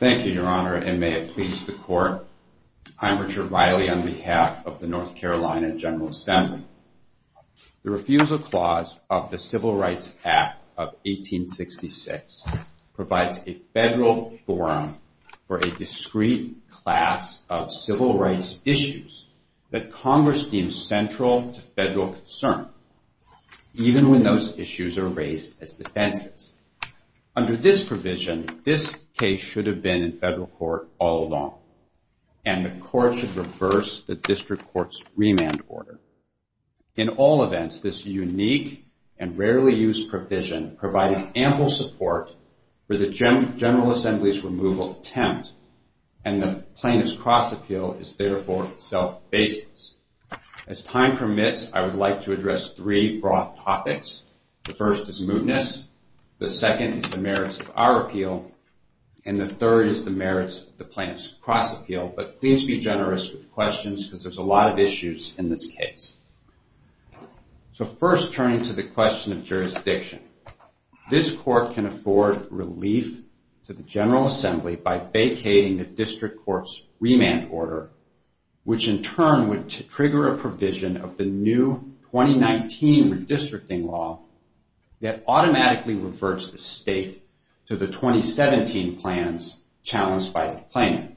The refusal clause of the Civil Rights Act of 1866 provides a federal forum for a discrete class of civil rights issues that Congress deems central to federal concern, even when those issues are raised as defenses. Under this provision, this case should have been in federal court all along, and the court should reverse the district court's remand order. In all events, this unique and rarely used provision provided ample support for the General Assembly's removal attempt, and the Plaintiff's Cross Appeal is therefore self-baseless. As time permits, I would like to address three broad topics. The first is mootness, the second is the merits of our appeal, and the third is the merits of the Plaintiff's Cross Appeal. But please be generous with questions, because there's a lot of issues in this case. So first, turning to the question of jurisdiction. This court can afford relief to the General Assembly by vacating the district court's trigger a provision of the new 2019 redistricting law that automatically reverts the state to the 2017 plans challenged by the plaintiff.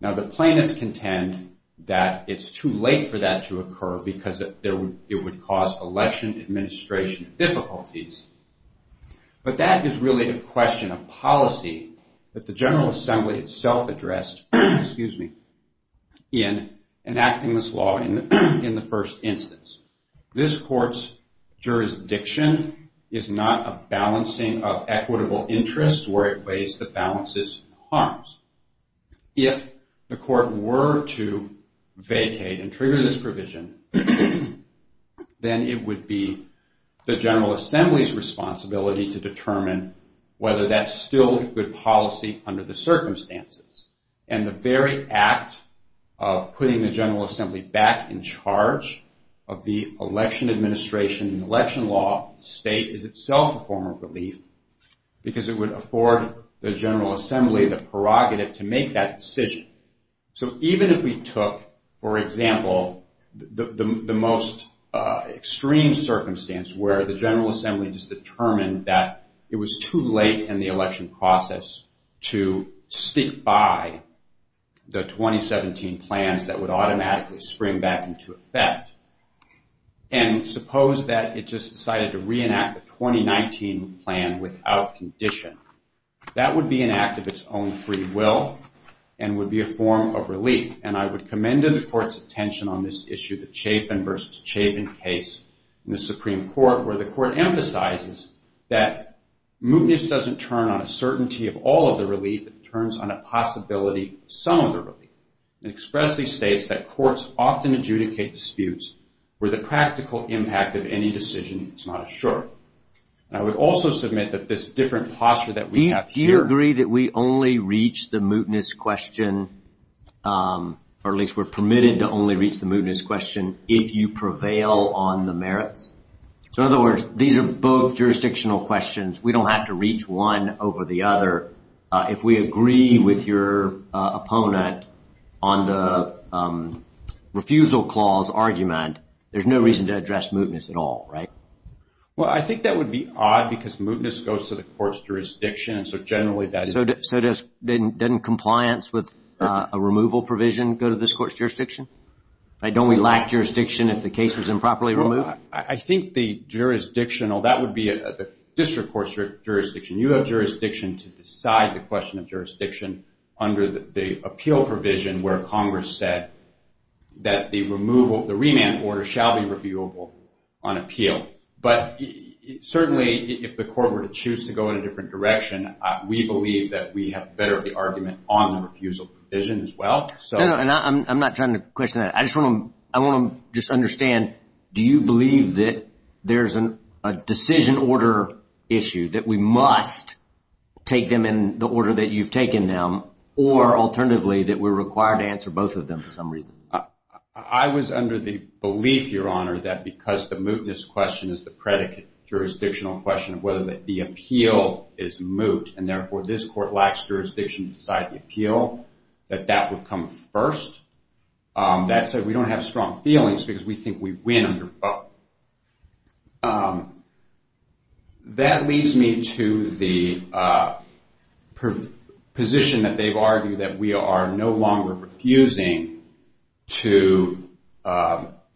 Now the plaintiffs contend that it's too late for that to occur, because it would cause election administration difficulties. But that is really a question of policy that the General Assembly itself addressed in enacting this law in the first instance. This court's jurisdiction is not a balancing of equitable interests where it weighs the balances of harms. If the court were to vacate and trigger this provision, then it would be the General Assembly's responsibility to determine whether that's still good policy under the circumstances. And the very act of putting the General Assembly back in charge of the election administration and election law state is itself a form of relief, because it would afford the General Assembly the prerogative to make that decision. So even if we took, for example, the most extreme circumstance where the General Assembly just determined that it was too late in the election process to stick by the 2017 plans that would automatically spring back into effect. And suppose that it just decided to reenact the 2019 plan without condition. That would be an act of its own free will and would be a form of relief. And I would commend the court's attention on this issue, the Chafin versus Chafin case in the Supreme Court, where the court emphasizes that mootness doesn't turn on a certainty of all of the relief. It turns on a possibility of some of the relief. It expressly states that courts often adjudicate disputes where the practical impact of any decision is not assured. I would also submit that this different posture that we have here... Do you agree that we only reach the mootness question, or at least we're permitted to only reach the mootness question if you prevail on the merits? So in other words, these are both jurisdictional questions. We don't have to reach one over the other. If we agree with your opponent on the refusal clause argument, there's no reason to address mootness at all, right? Well, I think that would be odd because mootness goes to the court's jurisdiction. So generally, that is... So doesn't compliance with a removal provision go to this court's jurisdiction? Don't we lack jurisdiction if the case is improperly removed? I think the jurisdictional... That would be the district court's jurisdiction. You have jurisdiction to decide the question of jurisdiction under the appeal provision where Congress said that the removal... The remand order shall be reviewable on appeal. But certainly, if the court were to choose to go in a different direction, we believe that we have better of the argument on the refusal provision as well. No, no. I'm not trying to question that. I just want to just understand, do you believe that there's a decision order issue that we must take them in the order that you've taken them, or alternatively, that we're required to answer both of them for some reason? I was under the belief, Your Honor, that because the mootness question is the predicate jurisdictional question of whether the appeal is moot, and therefore, this court lacks jurisdiction to decide the appeal, that that would come first. That said, we don't have strong feelings because we think we win under both. That leads me to the position that they've argued that we are no longer refusing to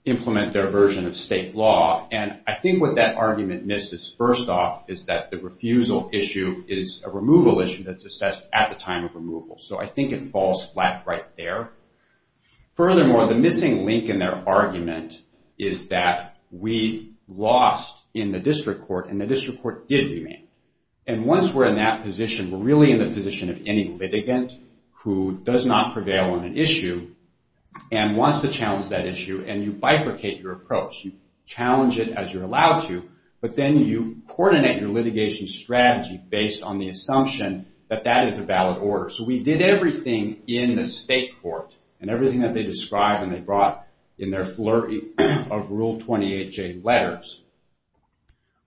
implement their version of state law. I think what that argument misses, first off, is that the refusal issue is a removal issue that's assessed at the time of removal. I think it falls flat right there. Furthermore, the missing link in their argument is that we lost in the district court, and the district court did remain. Once we're in that position, we're really in the position of any litigant who does not prevail on an issue, and wants to challenge that issue, and you bifurcate your approach. You challenge it as you're allowed to, but then you coordinate your litigation strategy based on the assumption that that is a valid order. We did everything in the state court, and everything that they described and they brought in their flurry of Rule 28J letters.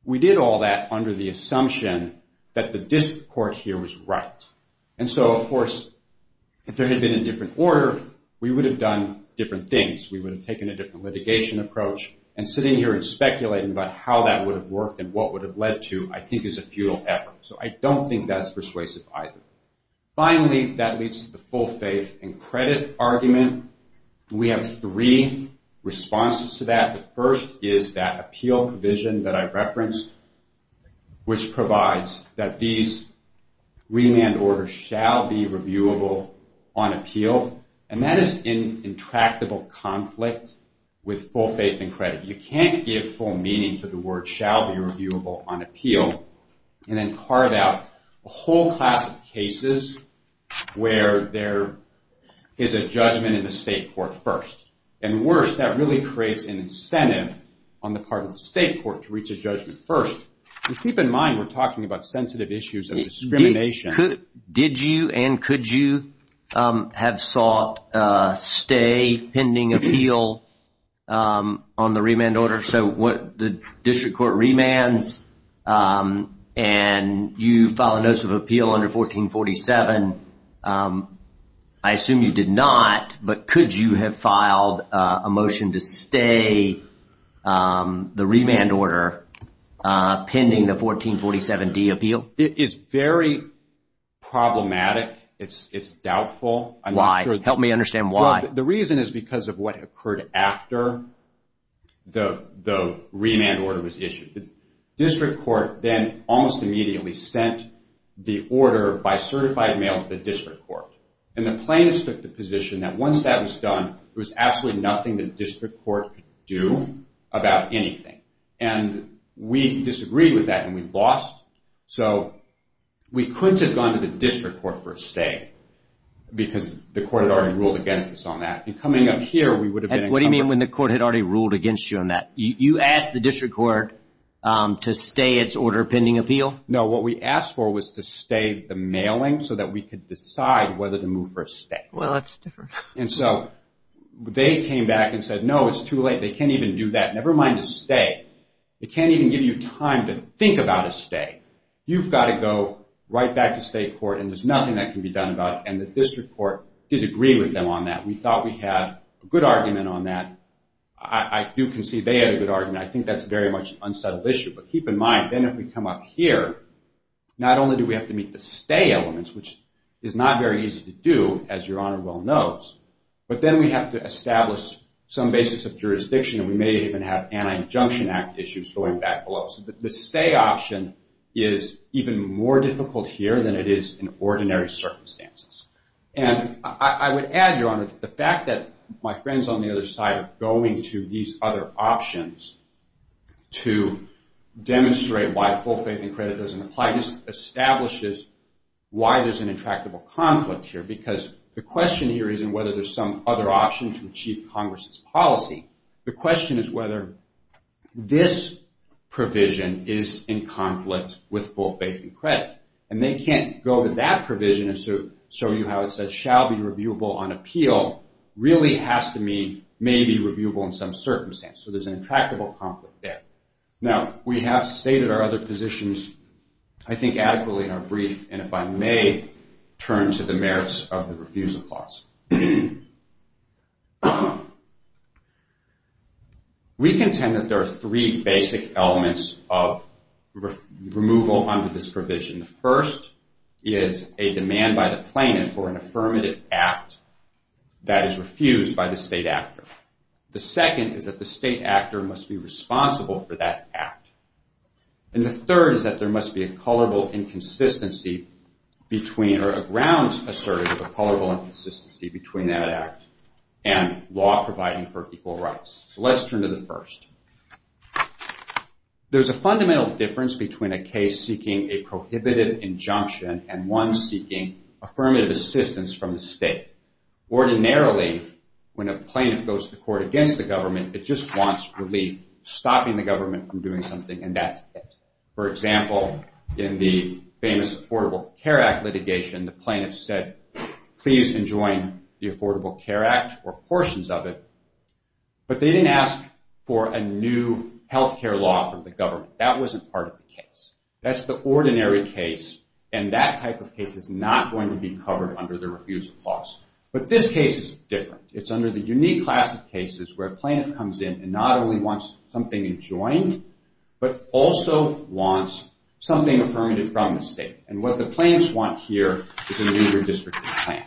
We did all that under the assumption that the district court here was right. Of course, if there had been a different order, we would have done different things. We would have taken a different litigation approach, and sitting here and speculating about how that would have worked and what would have led to, I think is a futile effort. I don't think that's persuasive either. Finally, that leads to the full faith and credit argument. We have three responses to that. The first is that appeal provision that I referenced, which provides that these remand reasonable conflict with full faith and credit. You can't give full meaning to the word shall be reviewable on appeal, and then carve out a whole class of cases where there is a judgment in the state court first. Worse, that really creates an incentive on the part of the state court to reach a judgment first. Keep in mind, we're talking about sensitive issues of discrimination. Did you and could you have sought a stay pending appeal on the remand order? The district court remands, and you file a notice of appeal under 1447. I assume you did not, but could you have filed a motion to stay the remand order pending the 1447D appeal? It's very problematic. It's doubtful. Why? Help me understand why. The reason is because of what occurred after the remand order was issued. The district court then almost immediately sent the order by certified mail to the district court. The plaintiffs took the position that once that was done, there was absolutely nothing the district court could do about anything. We disagreed with that, and we lost. We couldn't have gone to the district court for a stay because the court had already ruled against us on that. Coming up here, we would have been in trouble. What do you mean when the court had already ruled against you on that? You asked the district court to stay its order pending appeal? No, what we asked for was to stay the mailing so that we could decide whether to move for a stay. Well, that's different. They came back and said, no, it's too late. They can't even do that. Never mind a stay. They can't even give you time to think about a stay. You've got to go right back to state court, and there's nothing that can be done about it. And the district court disagreed with them on that. We thought we had a good argument on that. I do concede they had a good argument. I think that's very much an unsettled issue. But keep in mind, then if we come up here, not only do we have to meet the stay elements, which is not very easy to do, as Your Honor well knows, but then we have to establish some basis of jurisdiction, and we may even have anti-injunction act issues going back below. So the stay option is even more difficult here than it is in ordinary circumstances. And I would add, Your Honor, the fact that my friends on the other side are going to these other options to demonstrate why full faith and credit doesn't apply just establishes why there's an intractable conflict here. Because the question here isn't whether there's some other option to achieve Congress's policy. The question is whether this provision is in conflict with full faith and credit. And they can't go to that provision and show you how it says shall be reviewable on appeal really has to mean may be reviewable in some circumstance. So there's an intractable conflict there. Now we have stated our other positions, I think adequately in our brief, and if I may turn to the merits of the refusal clause. We contend that there are three basic elements of removal under this provision. The first is a demand by the plaintiff for an affirmative act that is refused by the state actor. The second is that the state actor must be responsible for that act. And the third is that there must be a colorable inconsistency between or a grounds assertive of a colorable inconsistency between that act and law providing for equal rights. So let's turn to the first. There's a fundamental difference between a case seeking a prohibitive injunction and one seeking affirmative assistance from the state. Ordinarily, when a plaintiff goes to court against the government, it just wants relief, stopping the government from doing something, and that's it. For example, in the famous Affordable Care Act litigation, the plaintiff said, please enjoin the Affordable Care Act or portions of it. But they didn't ask for a new health care law from the government. That wasn't part of the case. That's the ordinary case. And that type of case is not going to be covered under the refusal clause. But this case is different. It's under the unique class of cases where a plaintiff comes in and not only wants something enjoined, but also wants something affirmative from the state. And what the plaintiffs want here is a redistricting plan.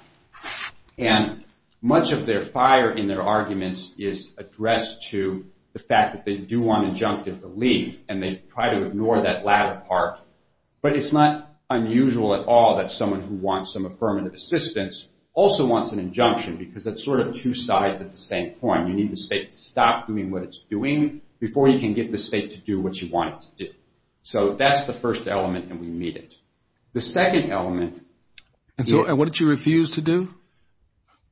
And much of their fire in their arguments is addressed to the fact that they do want injunctive relief, and they try to ignore that latter part. But it's not unusual at all that someone who wants some affirmative assistance also wants an injunction, because that's sort of two sides at the same point. You need the state to stop doing what it's doing before you can get the state to do what you want it to do. So that's the first element, and we meet it. The second element. And what did you refuse to do?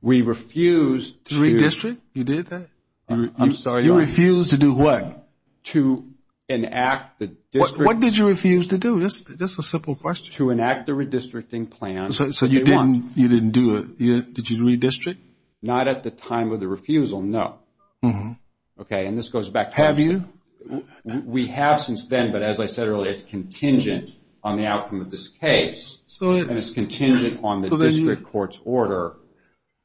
We refused to. To redistrict? You did that? I'm sorry. You refused to do what? To enact the district. What did you refuse to do? Just a simple question. To enact the redistricting plan. So you didn't do it. Did you redistrict? Not at the time of the refusal. No. OK, and this goes back to what I'm saying. We have since then, but as I said earlier, it's contingent on the outcome of this case. And it's contingent on the district court's order.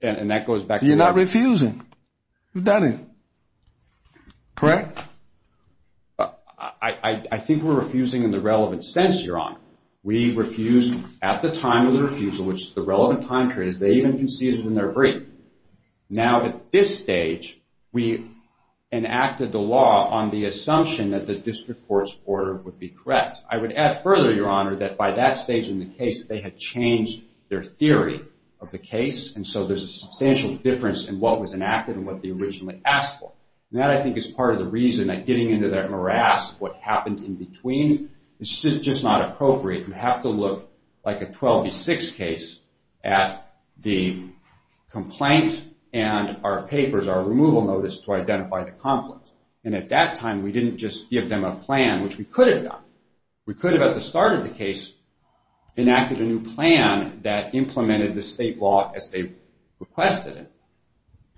And that goes back to what I'm saying. So you're not refusing. You've done it. Correct? I think we're refusing in the relevant sense, Your Honor. We refused at the time of the refusal, which is the relevant time period, as they even conceded in their brief. Now at this stage, we enacted the law on the assumption that the district court's order would be correct. I would add further, Your Honor, that by that stage in the case, they had changed their theory of the case. And so there's a substantial difference in what was enacted and what they originally asked for. And that, I think, is part of the reason that getting into that morass, what happened in between, is just not appropriate. It would have to look like a 12 v. 6 case at the complaint and our papers, our removal notice, to identify the conflict. And at that time, we didn't just give them a plan, which we could have done. We could have, at the start of the case, enacted a new plan that implemented the state law as they requested it,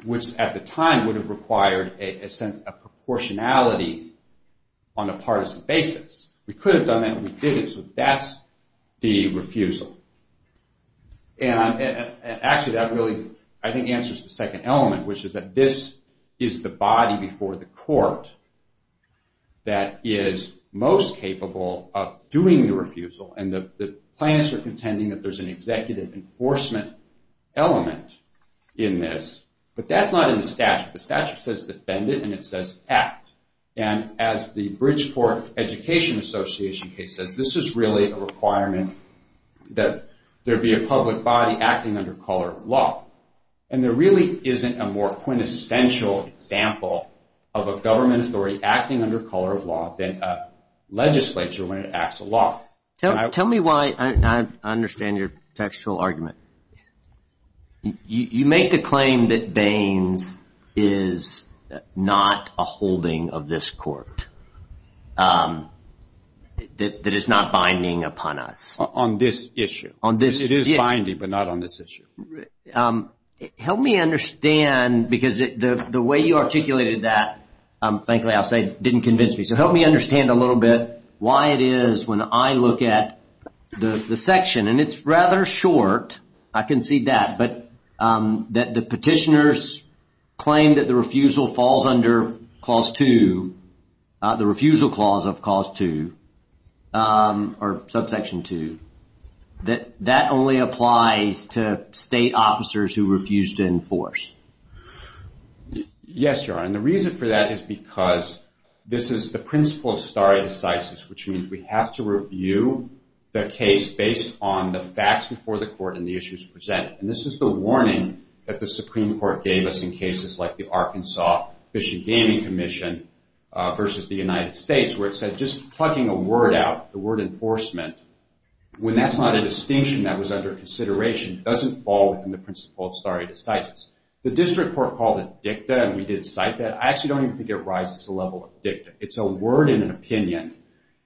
which at the time would have required a sense of proportionality on a partisan basis. We could have done that, and we didn't. So that's the refusal. And actually, that really, I think, answers the second element, which is that this is the body before the court that is most capable of doing the refusal. And the plaintiffs are contending that there's an executive enforcement element in this, but that's not in the statute. The statute says defend it, and it says act. And as the Bridgeport Education Association case says, this is really a requirement that there be a public body acting under color of law. And there really isn't a more quintessential example of a government authority acting under color of law than a legislature when it acts a law. Tell me why I understand your textual argument. You make the claim that Baines is not a holding of this court, that it's not binding upon us. On this issue. On this issue. It is binding, but not on this issue. Help me understand, because the way you articulated that, thankfully I'll say, didn't convince me. So help me understand a little bit why it is when I look at the section. And it's rather short. I can see that, but the petitioners claim that the refusal falls under Clause 2, the refusal clause of Clause 2, or Subsection 2. That only applies to state officers who refuse to enforce. Yes, Your Honor, and the reason for that is because this is the principle of stare decisis, which means we have to review the case based on the facts before the court and the issues presented. And this is the warning that the Supreme Court gave us in cases like the Arkansas Fish and Gaming Commission versus the United States, where it said just plugging a word out, the word enforcement, when that's not a distinction that was under consideration, doesn't fall within the principle of stare decisis. The district court called it dicta, and we did cite that. I actually don't even think it rises to the level of dicta. It's a word in an opinion.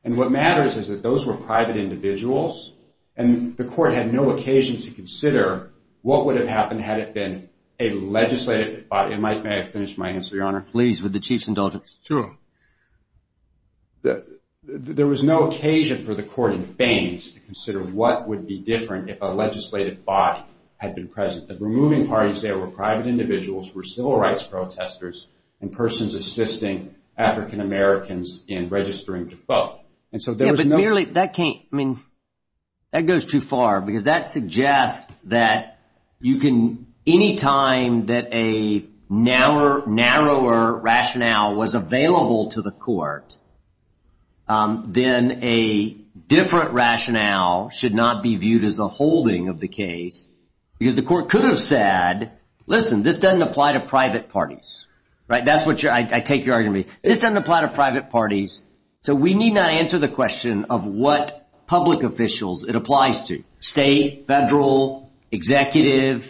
And what matters is that those were private individuals, and the court had no occasion to consider what would have happened had it been a legislative body. May I finish my answer, Your Honor? Please, with the chief's indulgence. Sure. There was no occasion for the court in Faines to consider what would be different if a legislative body had been present. The removing parties there were private individuals, were civil rights protesters, and persons assisting African-Americans in registering to vote. And so there was no- Yeah, but merely, that goes too far, because that any time that a narrower rationale was available to the court, then a different rationale should not be viewed as a holding of the case. Because the court could have said, listen, this doesn't apply to private parties. That's what I take your argument. This doesn't apply to private parties, so we need not answer the question of what public officials it applies to. State, federal, executive,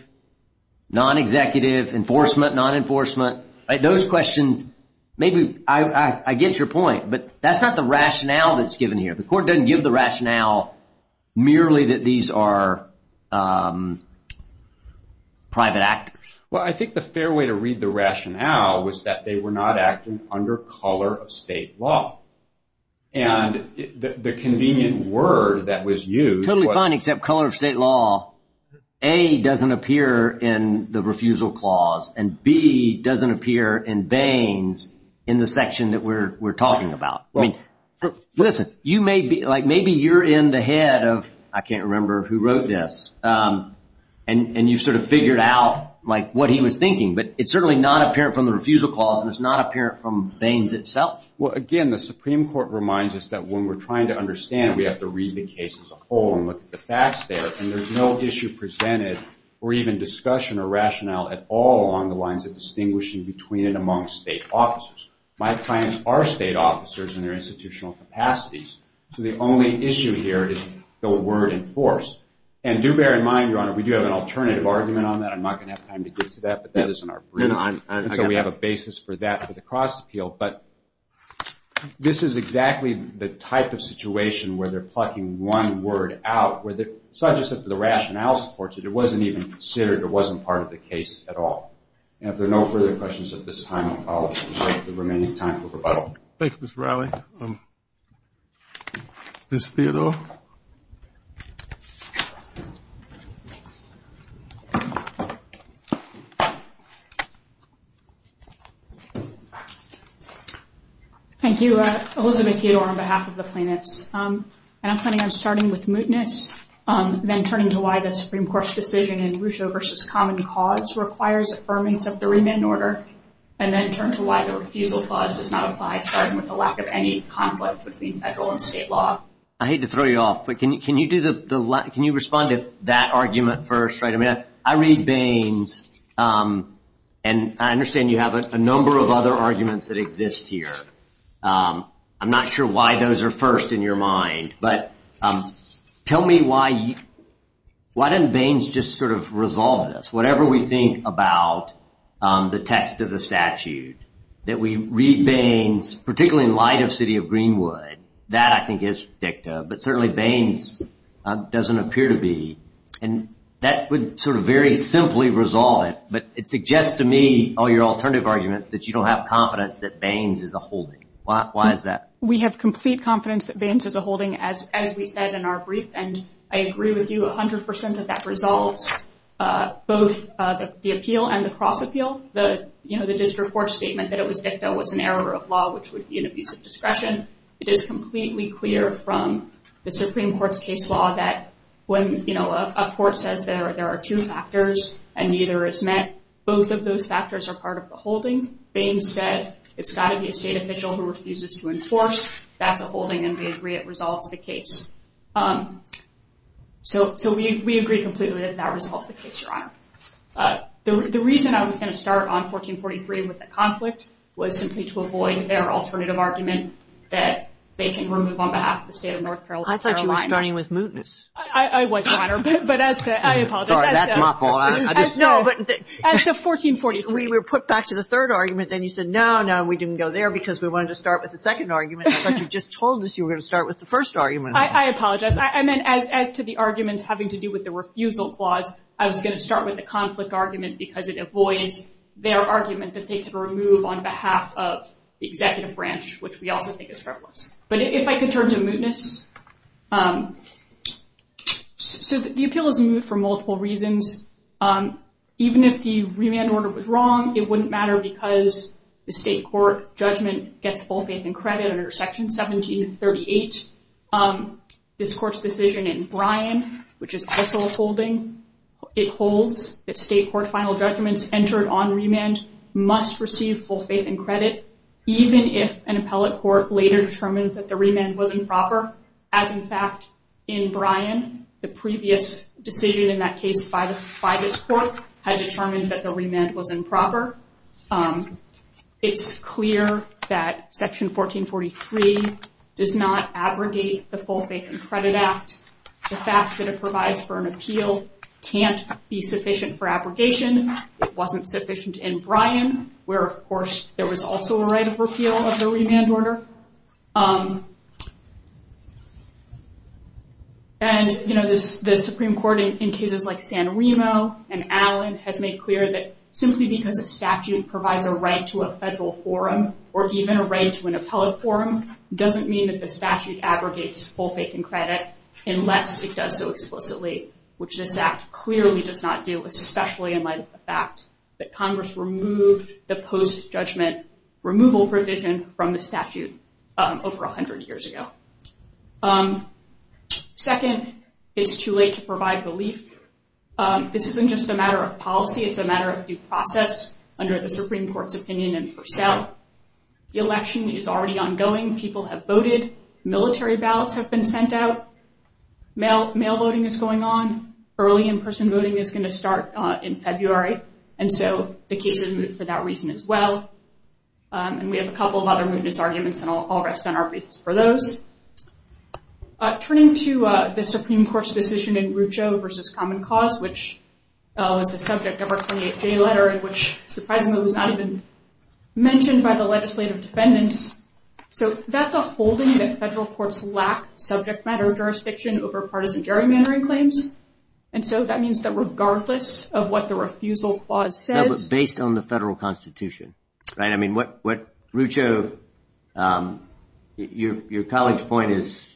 non-executive, enforcement, non-enforcement, those questions, maybe I get your point. But that's not the rationale that's given here. The court doesn't give the rationale merely that these are private actors. Well, I think the fair way to read the rationale was that they were not acting under color of state law. And the convenient word that was used was- Except color of state law, A, doesn't appear in the refusal clause, and B, doesn't appear in Baines in the section that we're talking about. Listen, maybe you're in the head of, I can't remember who wrote this, and you've sort of figured out what he was thinking. But it's certainly not apparent from the refusal clause, and it's not apparent from Baines itself. Well, again, the Supreme Court reminds us that when we're trying to understand, we have to read the case as a whole and look at the facts there. And there's no issue presented, or even discussion or rationale at all along the lines of distinguishing between and among state officers. My clients are state officers in their institutional capacities. So the only issue here is the word enforced. And do bear in mind, Your Honor, we do have an alternative argument on that. I'm not going to have time to get to that, but that is in our brief. And so we have a basis for that for the cross-appeal. But this is exactly the type of situation where they're plucking one word out, such as if the rationale supports it. It wasn't even considered. It wasn't part of the case at all. And if there are no further questions at this time, I'll take the remaining time for rebuttal. Thank you, Mr. Riley. Ms. Theodore? Thank you, Elizabeth Theodore, on behalf of the plaintiffs. And I'm planning on starting with mootness, then turning to why the Supreme Court's decision in Russo v. Common Cause requires affirmance of the remand order, and then turn to why the refusal clause does not apply, starting with the lack of any conflict between federal and state law. I hate to throw you off, but can you respond to that argument first? I read Baines. And I understand you have a number of other arguments that exist here. I'm not sure why those are first in your mind. But tell me why didn't Baines just sort of resolve this? Whatever we think about the text of the statute, that we read Baines, particularly in light of City of Greenwood, that I think is predictive. But certainly Baines doesn't appear to be. And that would sort of very simply resolve it. But it suggests to me, all your alternative arguments, that you don't have confidence that Baines is a holding. Why is that? We have complete confidence that Baines is a holding, as we said in our brief. And I agree with you 100% that that resolves both the appeal and the cross-appeal. The district court statement that it was victim was an error of law, which would be an abuse of discretion. It is completely clear from the Supreme Court's case law that when a court says there are two factors and neither is met, both of those factors are part of the holding. Baines said, it's got to be a state official who refuses to enforce. That's a holding, and we agree it resolves the case. So we agree completely that that resolves the case, Your Honor. The reason I was going to start on 1443 with the conflict was simply to avoid their alternative argument that they can remove on behalf of the state of North Carolina. I thought you were starting with mootness. I was, Your Honor. But as the, I apologize. Sorry, that's my fault. No, but as to 1443. We were put back to the third argument, then you said, no, no, we didn't go there because we wanted to start with the second argument. But you just told us you were going to start with the first argument. I apologize. I meant as to the arguments having to do with the refusal clause, I was going to start with the conflict argument because it avoids their argument that they could remove on behalf of the executive branch, which we also think is frivolous. But if I could turn to mootness. So the appeal is moot for multiple reasons. Even if the remand order was wrong, it wouldn't matter because the state court judgment gets full faith and credit under Section 1738. This court's decision in Bryan, which is also a holding, it holds that state court final judgments entered on remand must receive full faith and credit, even if an appellate court later determines that the remand wasn't proper. As in fact, in Bryan, the previous decision in that case by this court had determined that the remand was improper. It's clear that Section 1443 does not abrogate the full faith and credit act. The fact that it provides for an appeal can't be sufficient for abrogation. It wasn't sufficient in Bryan, where, of course, there was also a right of repeal of the remand order. And, you know, the Supreme Court, in cases like San Remo and Allen, has made clear that simply because a statute provides a right to a federal forum, or even a right to an appellate forum, doesn't mean that the statute abrogates full faith and credit unless it does so explicitly, which this act clearly does not do, especially in light of the fact that Congress removed the post-judgment removal provision from the statute over 100 years ago. Second, it's too late to provide relief. This isn't just a matter of policy, it's a matter of due process under the Supreme Court's opinion in Purcell. The election is already ongoing, people have voted, military ballots have been sent out, mail voting is going on, early in-person voting is going to start in February, and so the case is moot for that reason as well. And we have a couple of other mootness arguments, and I'll rest on our feet for those. Turning to the Supreme Court's decision in Rucho v. Common Cause, which was the subject of our 28-J letter, in which, surprisingly, it was not even mentioned by the legislative defendants, so that's a holding that federal courts lack subject matter jurisdiction over partisan gerrymandering claims, and so that means that regardless of what the refusal clause says... Based on the federal constitution, right? Rucho, your colleague's point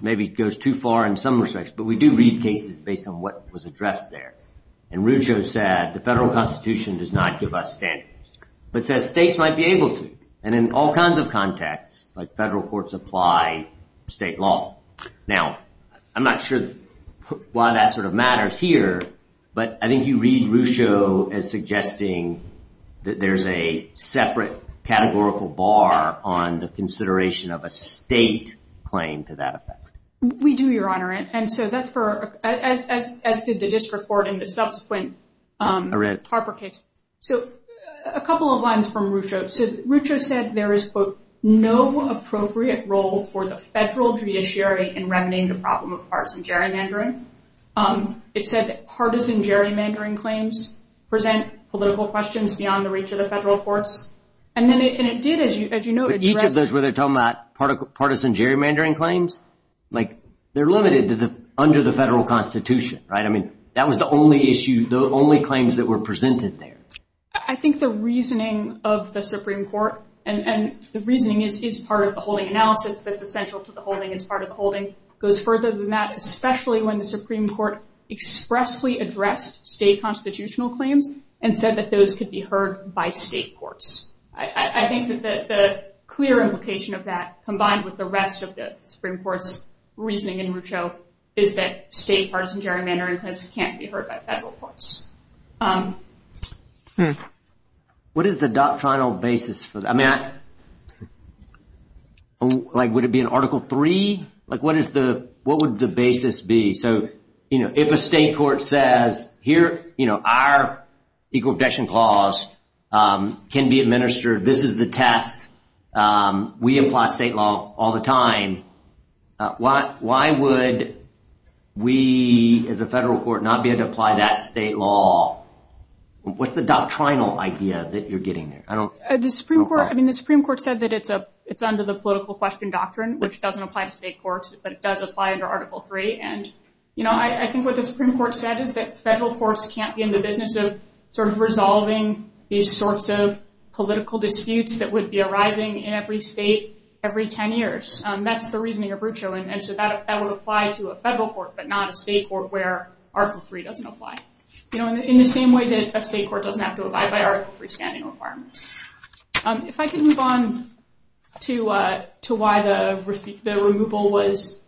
maybe goes too far in some respects, but we do read cases based on what was addressed there. And Rucho said, the federal constitution does not give us standards, but says states might be able to, and in all kinds of contexts, like federal courts apply state law. Now, I'm not sure why that sort of matters here, but I think you read Rucho as suggesting that there's a separate categorical bar on the consideration of a state claim to that effect. We do, Your Honor, and so that's for... As did the district court in the subsequent Harper case. So, a couple of lines from Rucho. So, Rucho said there is, quote, no appropriate role for the federal judiciary in remedying the problem of partisan gerrymandering. It said that partisan gerrymandering claims present political questions beyond the reach of the federal courts. And then it did, as you noted... But each of those where they're talking about partisan gerrymandering claims, like, they're limited under the federal constitution, right? I mean, that was the only issue, the only claims that were presented there. I think the reasoning of the Supreme Court, and the reasoning is part of the holding analysis that's essential to the holding, it's part of the holding, goes further than that, especially when the Supreme Court expressly addressed state constitutional claims and said that those could be heard by state courts. I think that the clear implication of that, combined with the rest of the Supreme Court's reasoning in Rucho, is that state partisan gerrymandering claims can't be heard by federal courts. What is the doctrinal basis for that? I mean, like, would it be in Article III? Like, what would the basis be? So, you know, if a state court says, here, you know, our Equal Protection Clause can be administered, this is the test, we apply state law all the time, why would we, as a federal court, not be able to apply that state law? What's the doctrinal idea that you're getting there? The Supreme Court, I mean, the Supreme Court said that it's under the political question doctrine, which doesn't apply to state courts, but it does apply under Article III, and, you know, I think what the Supreme Court said is that federal courts can't be in the business of sort of resolving these sorts of political disputes that would be arising in every state every 10 years. That's the reasoning of Rucho, and so that would apply to a federal court, but not a state court where Article III doesn't apply, you know, in the same way that a state court doesn't have to abide by Article III standing requirements. If I can move on to why the removal was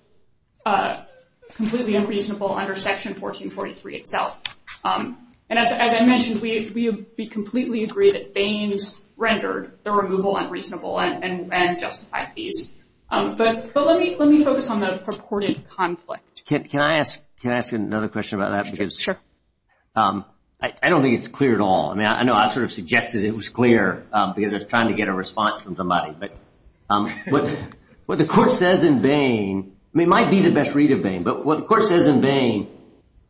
completely unreasonable under Section 1443 itself. And as I mentioned, we completely agree that Baines rendered the removal unreasonable and justified these, but let me focus on the purported conflict. Can I ask another question about that? Sure. I don't think it's clear at all. I mean, I know I sort of suggested it was clear because I was trying to get a response from somebody, but what the court says in Baine, I mean, it might be the best read of Baine, but what the court says in Baine,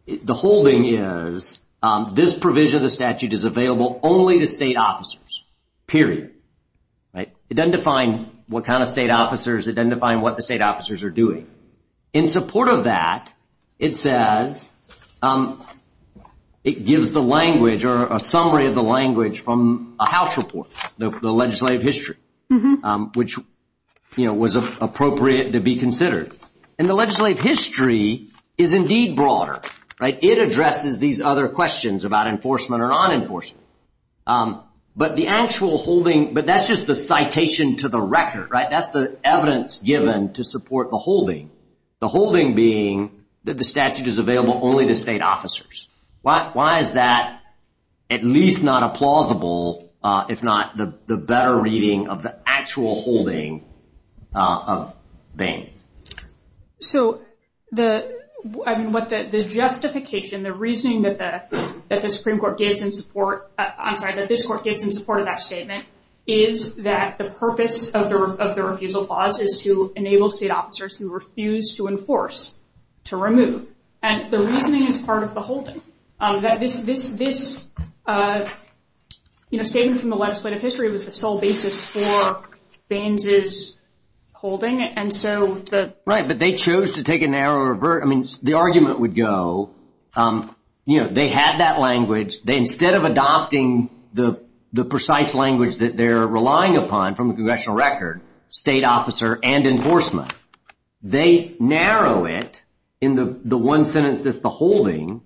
the whole thing is this provision of the statute is available only to state officers, period, right? It doesn't define what kind of state officers, it doesn't define what the state officers are doing. In support of that, it says it gives the language or a summary of the language from a house report, the legislative history, which was appropriate to be considered. And the legislative history is indeed broader, right? It addresses these other questions about enforcement or non-enforcement. But the actual holding, but that's just the citation to the record, right? That's the evidence given to support the holding. The holding being that the statute is available only to state officers. Why is that at least not a plausible, if not the better reading of the actual holding of Baine? So the justification, the reasoning that the Supreme Court gives in support, I'm sorry, that this court gives in support of that statement is that the purpose of the refusal clause is to enable state officers who refuse to enforce to remove. And the reasoning is part of the holding. That this statement from the legislative history was the sole basis for Baines's holding. And so the- Right, but they chose to take a narrow revert. I mean, the argument would go, they had that language. They, instead of adopting the precise language that they're relying upon from the congressional record, state officer and enforcement, they narrow it in the one sentence that's the holding,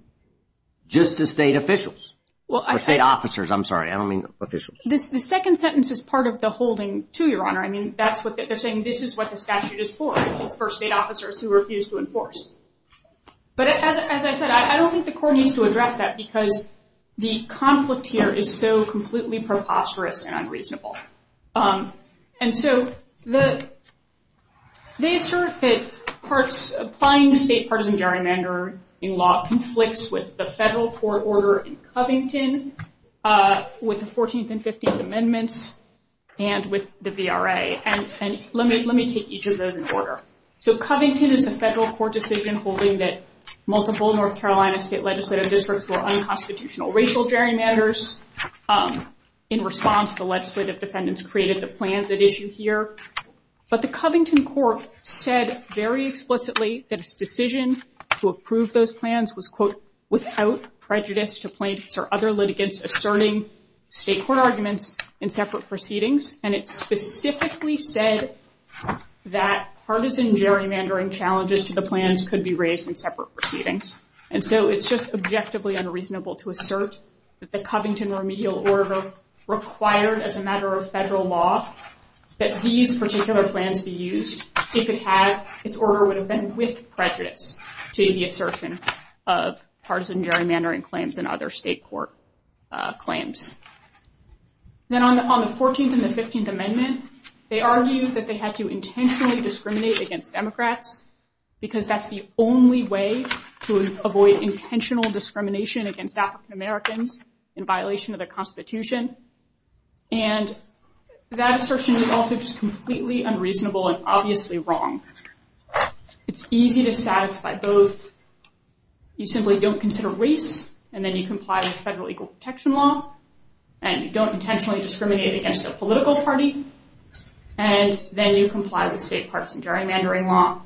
just to state officials, or state officers. I'm sorry, I don't mean officials. The second sentence is part of the holding too, Your Honor. I mean, that's what they're saying, this is what the statute is for. It's for state officers who refuse to enforce. But as I said, I don't think the court needs to address that because the conflict here is so completely preposterous and unreasonable. And so, they assert that applying state partisan gerrymander in law conflicts with the federal court order in Covington, with the 14th and 15th Amendments, and with the VRA. And let me take each of those in order. So Covington is the federal court decision holding that multiple North Carolina state legislative districts were unconstitutional racial gerrymanders in response to the legislative defendants created the plans at issue here. But the Covington court said very explicitly that its decision to approve those plans was quote, without prejudice to plaintiffs or other litigants asserting state court arguments in separate proceedings. And it specifically said that partisan gerrymandering challenges to the plans And so, it's just objectively unreasonable to assert that the Covington remedial order required as a matter of federal law that these particular plans be used if its order would have been with prejudice to the assertion of partisan gerrymandering claims and other state court claims. Then on the 14th and the 15th Amendment, they argued that they had to intentionally discriminate against Democrats because that's the only way to avoid intentional discrimination against African Americans in violation of the Constitution. And that assertion is also just completely unreasonable and obviously wrong. It's easy to satisfy both. You simply don't consider race and then you comply with federal equal protection law and you don't intentionally discriminate against a political party. And then you comply with state partisan gerrymandering law.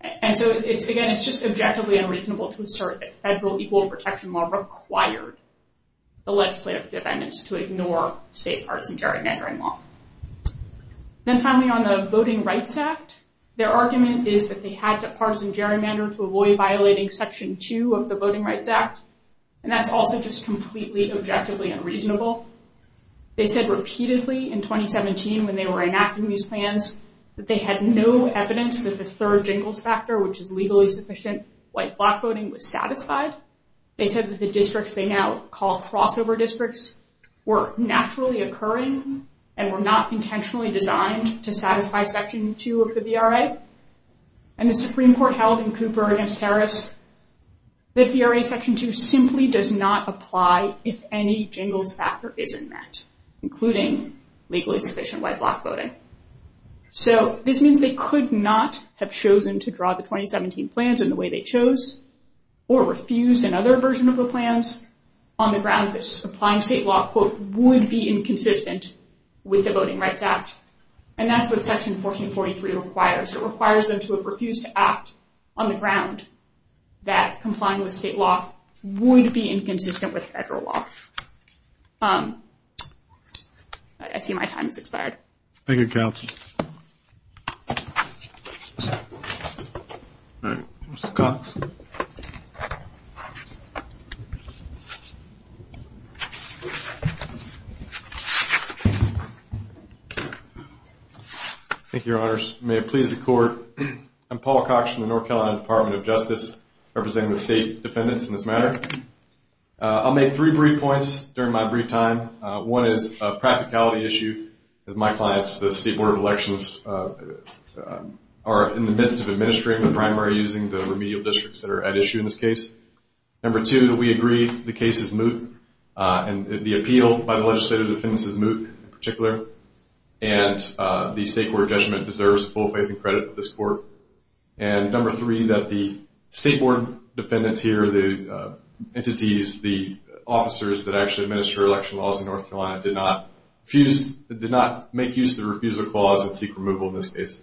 And so, again, it's just objectively unreasonable to assert that federal equal protection law required the legislative amendments to ignore state partisan gerrymandering law. Then finally, on the Voting Rights Act, their argument is that they had to partisan gerrymander to avoid violating section two of the Voting Rights Act. And that's also just completely objectively unreasonable. They said repeatedly in 2017 when they were enacting these plans that they had no evidence that the third jingles factor, which is legally sufficient white block voting, was satisfied. They said that the districts they now call crossover districts were naturally occurring and were not intentionally designed to satisfy section two of the VRA. And the Supreme Court held in Cooper against Harris that VRA section two simply does not apply if any jingles factor isn't met, including legally sufficient white block voting. So this means they could not have chosen to draw the 2017 plans in the way they chose or refused another version of the plans on the ground that supplying state law would be inconsistent with the Voting Rights Act. And that's what section 1443 requires. It requires them to have refused to act on the ground that complying with state law would be inconsistent with federal law. I see my time has expired. Thank you, counsel. All right, Mr. Cox. Thank you, your honors. May it please the court. I'm Paul Cox from the North Carolina Department of Justice representing the state defendants in this matter. I'll make three brief points during my brief time. One is a practicality issue. As my clients, the State Board of Elections are in the midst of administering the primary using the remedial districts that are at issue in this case. Number two, that we agree the case is moot and the appeal by the legislative defendants is moot in particular. And the state court judgment deserves full faith and credit of this court. And number three, that the state board defendants here, the entities, the officers that actually administer election laws in North Carolina did not did not make use of the refusal clause and seek removal in this case.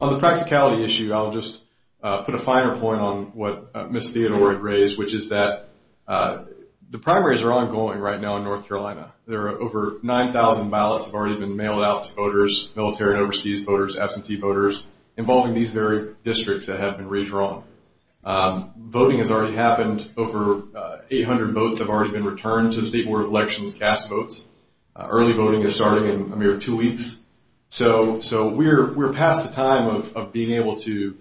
On the practicality issue, I'll just put a finer point on what Ms. Theodore had raised, which is that the primaries are ongoing right now in North Carolina. There are over 9,000 ballots have already been mailed out to voters, military and overseas voters, absentee voters, involving these very districts that have been redrawn. Voting has already happened. Over 800 votes have already been returned to the state board of elections cast votes. Early voting is starting in a mere two weeks. So we're past the time of being able to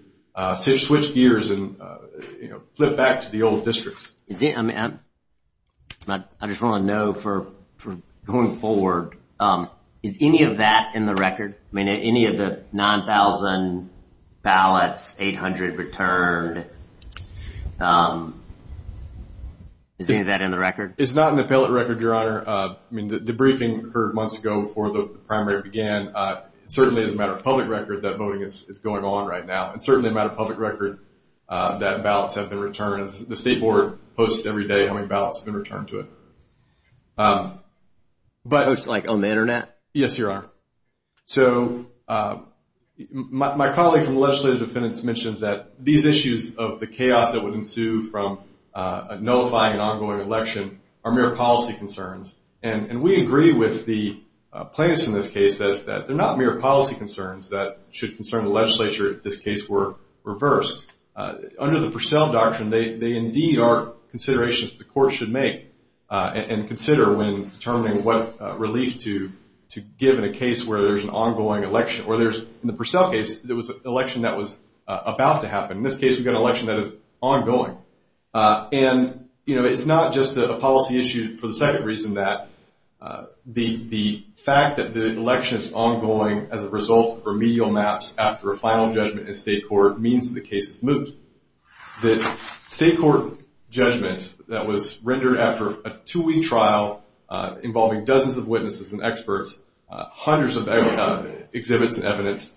switch gears and flip back to the old districts. I just want to know for going forward, is any of that in the record? I mean, any of the 9,000 ballots, 800 returned, is any of that in the record? It's not in the ballot record, your honor. I mean, the briefing occurred months ago before the primary began. Certainly, as a matter of public record, that voting is going on right now. And certainly, a matter of public record, that ballots have been returned. The state board posts every day how many ballots have been returned to it. But it's like on the internet? Yes, your honor. So my colleague from legislative defendants mentions that these issues of the chaos that would ensue from nullifying an ongoing election are mere policy concerns. And we agree with the plaintiffs in this case that they're not mere policy concerns that should concern the legislature if this case were reversed. Under the Purcell Doctrine, they indeed are considerations the court should make and consider when determining what relief to give in a case where there's an ongoing election. Or there's, in the Purcell case, there was an election that was about to happen. In this case, we've got an election that is ongoing. And it's not just a policy issue for the second reason that the fact that the election is ongoing as a result of remedial maps after a final judgment in state court means the case is moved. The state court judgment that was rendered after a two-week trial involving dozens of witnesses and experts, hundreds of exhibits and evidence,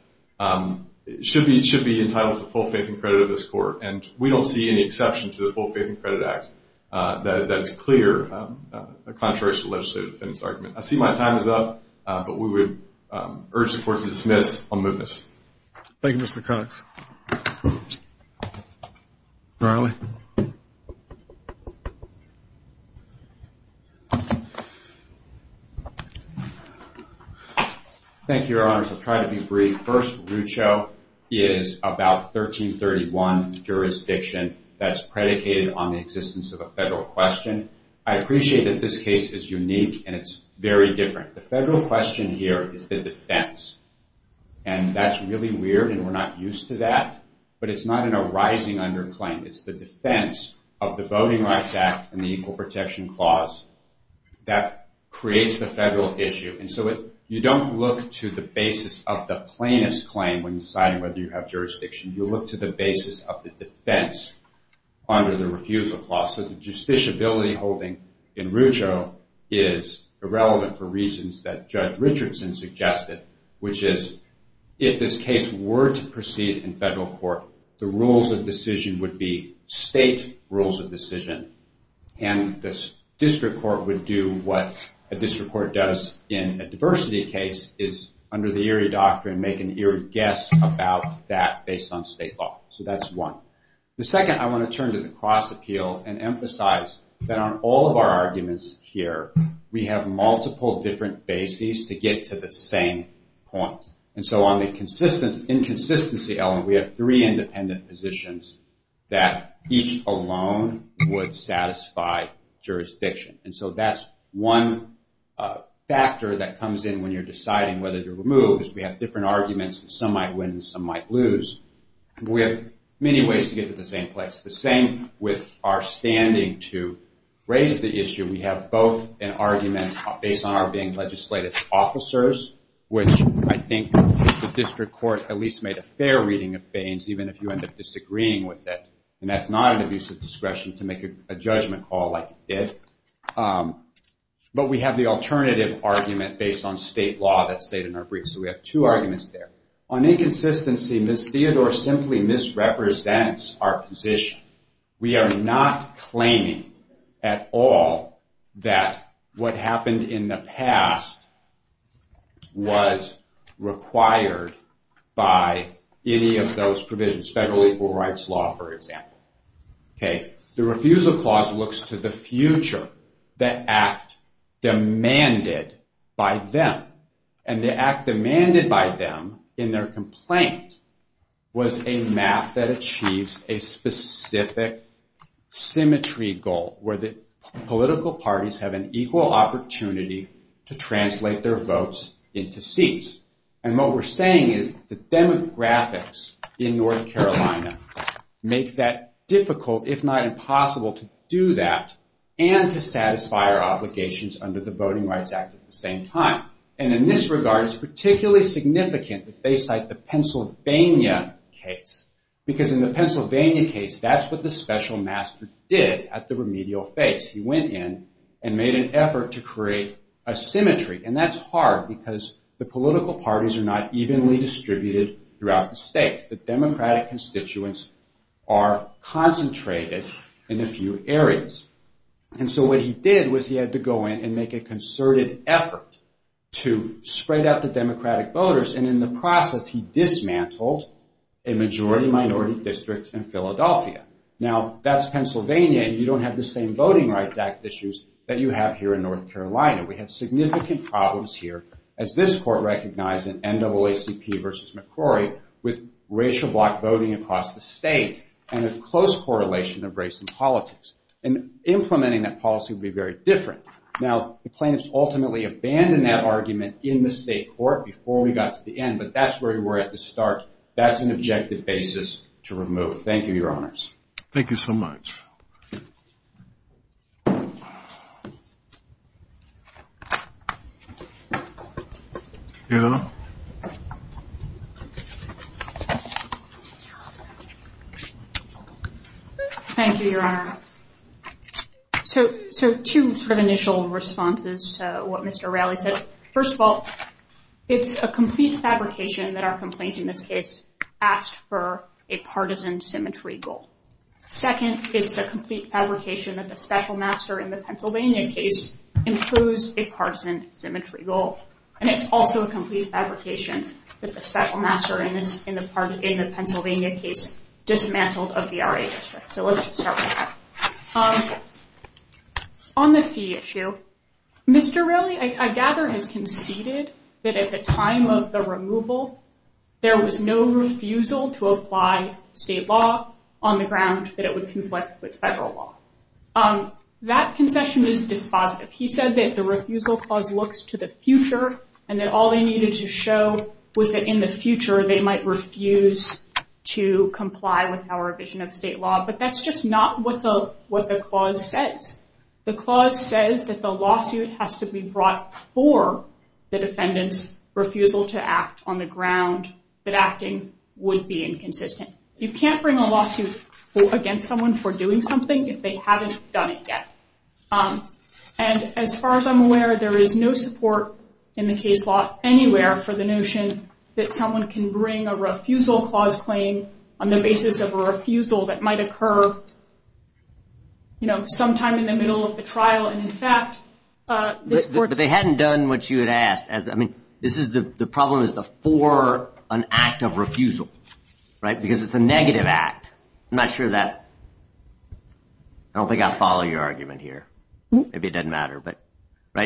should be entitled to full faith and credit of this court. And we don't see any exception to the Full Faith and Credit Act that is clear contrary to the legislative defense argument. I see my time is up, but we would urge the court to dismiss on mootness. Thank you, Mr. Cox. Riley. Thank you, Your Honors. I'll try to be brief. My first root show is about 1331 jurisdiction that's predicated on the existence of a federal question. I appreciate that this case is unique and it's very different. The federal question here is the defense. And that's really weird and we're not used to that, but it's not an arising underclaim. It's the defense of the Voting Rights Act and the Equal Protection Clause that creates the federal issue. And so you don't look to the basis of the plainest claim when deciding whether you have jurisdiction. You look to the basis of the defense under the refusal clause. So the justiciability holding in root show is irrelevant for reasons that Judge Richardson suggested, which is if this case were to proceed in federal court, the rules of decision would be state rules of decision and the district court would do what a district court does in a diversity case is under the Erie Doctrine, make an Erie guess about that based on state law. So that's one. The second, I wanna turn to the cross appeal and emphasize that on all of our arguments here, we have multiple different bases to get to the same point. And so on the inconsistency element, we have three independent positions that each alone would satisfy jurisdiction. And so that's one factor that comes in when you're deciding whether to remove is we have different arguments and some might win and some might lose. We have many ways to get to the same place. The same with our standing to raise the issue. We have both an argument based on our being legislative officers, which I think the district court at least made a fair reading of Baines, even if you end up disagreeing with it. And that's not an abuse of discretion to make a judgment call like it did. But we have the alternative argument based on state law that's stated in our brief. So we have two arguments there. On inconsistency, Ms. Theodore simply misrepresents our position. We are not claiming at all that what happened in the past was required by any of those provisions, federal equal rights law, for example. Okay, the refusal clause looks to the future, the act demanded by them. And the act demanded by them in their complaint was a map that achieves a specific symmetry goal where the political parties have an equal opportunity to translate their votes into seats. And what we're saying is the demographics in North Carolina make that difficult, if not impossible, to do that and to satisfy our obligations under the Voting Rights Act at the same time. And in this regard, it's particularly significant that they cite the Pennsylvania case. Because in the Pennsylvania case, that's what the special master did at the remedial phase. He went in and made an effort to create a symmetry. And that's hard because the political parties are not evenly distributed throughout the state. The Democratic constituents are concentrated in a few areas. And so what he did was he had to go in and make a concerted effort to spread out the Democratic voters. And in the process, he dismantled a majority minority district in Philadelphia. Now, that's Pennsylvania, and you don't have the same Voting Rights Act issues that you have here in North Carolina. We have significant problems here, as this court recognized in NAACP versus McCrory, with racial black voting across the state and a close correlation of race and politics. And implementing that policy would be very different. Now, the plaintiffs ultimately abandoned that argument in the state court before we got to the end, but that's where we were at the start. That's an objective basis to remove. Thank you, Your Honors. Thank you so much. Eleanor? Thank you, Your Honor. So two sort of initial responses to what Mr. Raleigh said. First of all, it's a complete fabrication that our complaint in this case asked for a partisan symmetry goal. Second, it's a complete fabrication that the special master in the Pennsylvania case improves a partisan symmetry goal. And it's also a complete fabrication that the special master in the Pennsylvania case dismantled a VRA district. So let's just start with that. On the fee issue, Mr. Raleigh, I gather, has conceded that at the time of the removal, there was no refusal to apply state law on the ground that it would conflict with federal law. That concession is dispositive. He said that the refusal clause looks to the future and that all they needed to show was that in the future they might refuse to comply with our vision of state law. But that's just not what the clause says. The clause says that the lawsuit has to be brought for the defendant's refusal to act on the ground that acting would be inconsistent. You can't bring a lawsuit against someone for doing something if they haven't done it yet. And as far as I'm aware, there is no support in the case law anywhere for the notion that someone can bring a refusal clause claim on the basis of a refusal that might occur sometime in the middle of the trial. And in fact, this court's- But they hadn't done what you had asked. I mean, the problem is the for an act of refusal, right? Because it's a negative act. I'm not sure that- I don't think I follow your argument here. Maybe it doesn't matter.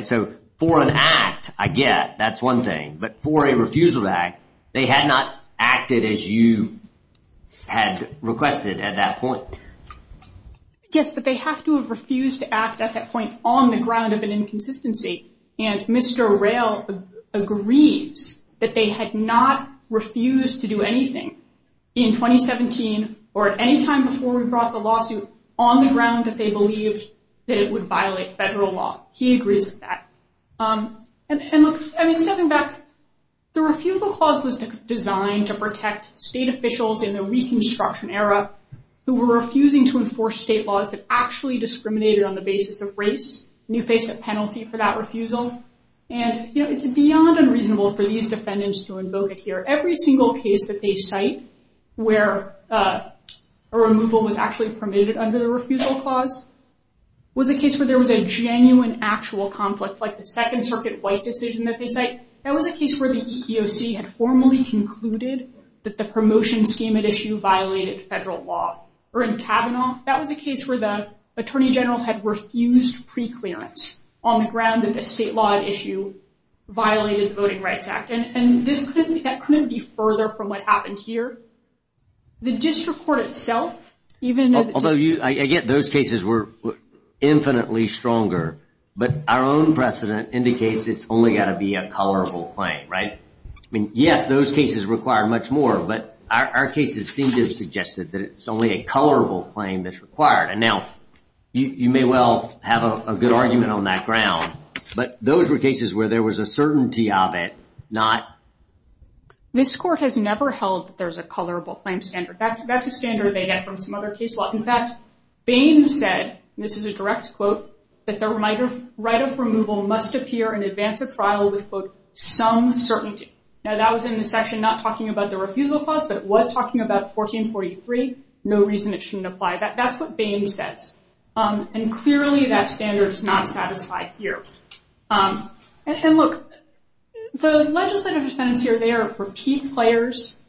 So for an act, I get that's one thing. But for a refusal act, they had not acted as you had requested at that point. Yes, but they have to have refused to act at that point on the ground of an inconsistency. And Mr. Arrell agrees that they had not refused to do anything in 2017 or at any time before we brought the lawsuit on the ground that they believed that it would violate federal law. He agrees with that. And look, stepping back, the refusal clause was designed to protect state officials in the Reconstruction era who were refusing to enforce state laws that actually discriminated on the basis of race. And you face a penalty for that refusal. And it's beyond unreasonable for these defendants to invoke it here. Every single case that they cite where a removal was actually permitted under the refusal clause was a case where there was a genuine actual conflict, like the Second Circuit White decision that they cite. That was a case where the EEOC had formally concluded that the promotion scheme at issue violated federal law. Or in Kavanaugh, that was a case where the attorney general had refused preclearance on the ground that the state law at issue violated the Voting Rights Act. And that couldn't be further from what happened here. The district court itself, even as it did- Although, again, those cases were infinitely stronger. But our own precedent indicates it's only got to be a colorable claim, right? Yes, those cases require much more. But our cases seem to have suggested that it's only a colorable claim that's required. And now, you may well have a good argument on that ground. But those were cases where there was a certainty of it, not- This court has never held that there's a colorable claim standard. That's a standard they get from some other case law. In fact, Bain said, and this is a direct quote, that the right of removal must appear in advance of trial with, quote, some certainty. Now, that was in the section not talking about the refusal clause, but it was talking about 1443. No reason it shouldn't apply. That's what Bain says. And clearly, that standard is not satisfied here. And look, the legislative defendants here, they are repeat players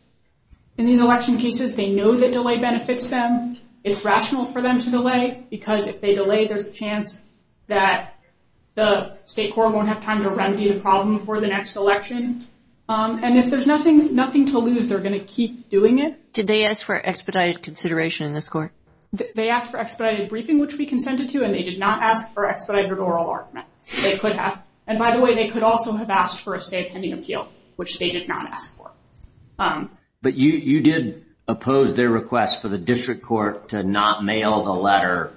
in these election cases. They know that delay benefits them. It's rational for them to delay. Because if they delay, there's a chance that the state court won't have time to remedy the problem for the next election. And if there's nothing to lose, they're going to keep doing it. Did they ask for expedited consideration in this court? They asked for expedited briefing, which we consented to. And they did not ask for expedited oral argument. They could have. And by the way, they could also have asked for a state pending appeal, which they did not ask for. But you did oppose their request for the district court to not mail the letter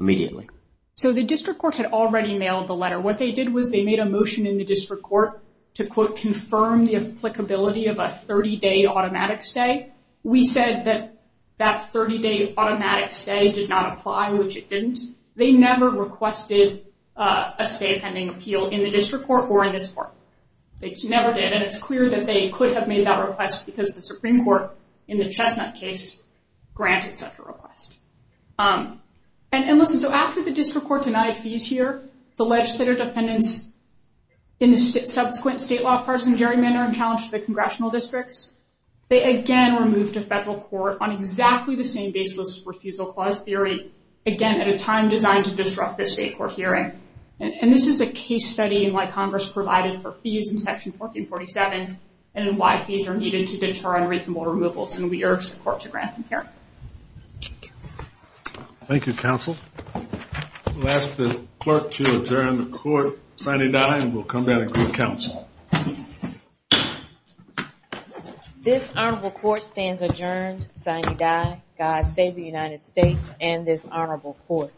immediately. So the district court had already mailed the letter. What they did was they made a motion in the district court to, quote, confirm the applicability of a 30-day automatic stay. We said that that 30-day automatic stay did not apply, which it didn't. They never requested a state pending appeal in the district court or in this court. They never did. And it's clear that they could have made that request because the Supreme Court, in the Chestnut case, granted such a request. And listen, so after the district court denied fees here, the legislative defendants in the subsequent state law partisan gerrymandering challenge to the congressional districts, they again were moved to federal court on exactly the same basis refusal clause theory, again, at a time designed to disrupt the state court hearing. And this is a case study in why Congress provided for fees in section 1447 and why fees are needed to deter unreasonable removals. And we urge the court to grant them here. Thank you, counsel. We'll ask the clerk to adjourn the court. Signee Dye will come down and give counsel. This honorable court stands adjourned. Signee Dye. God save the United States and this honorable court.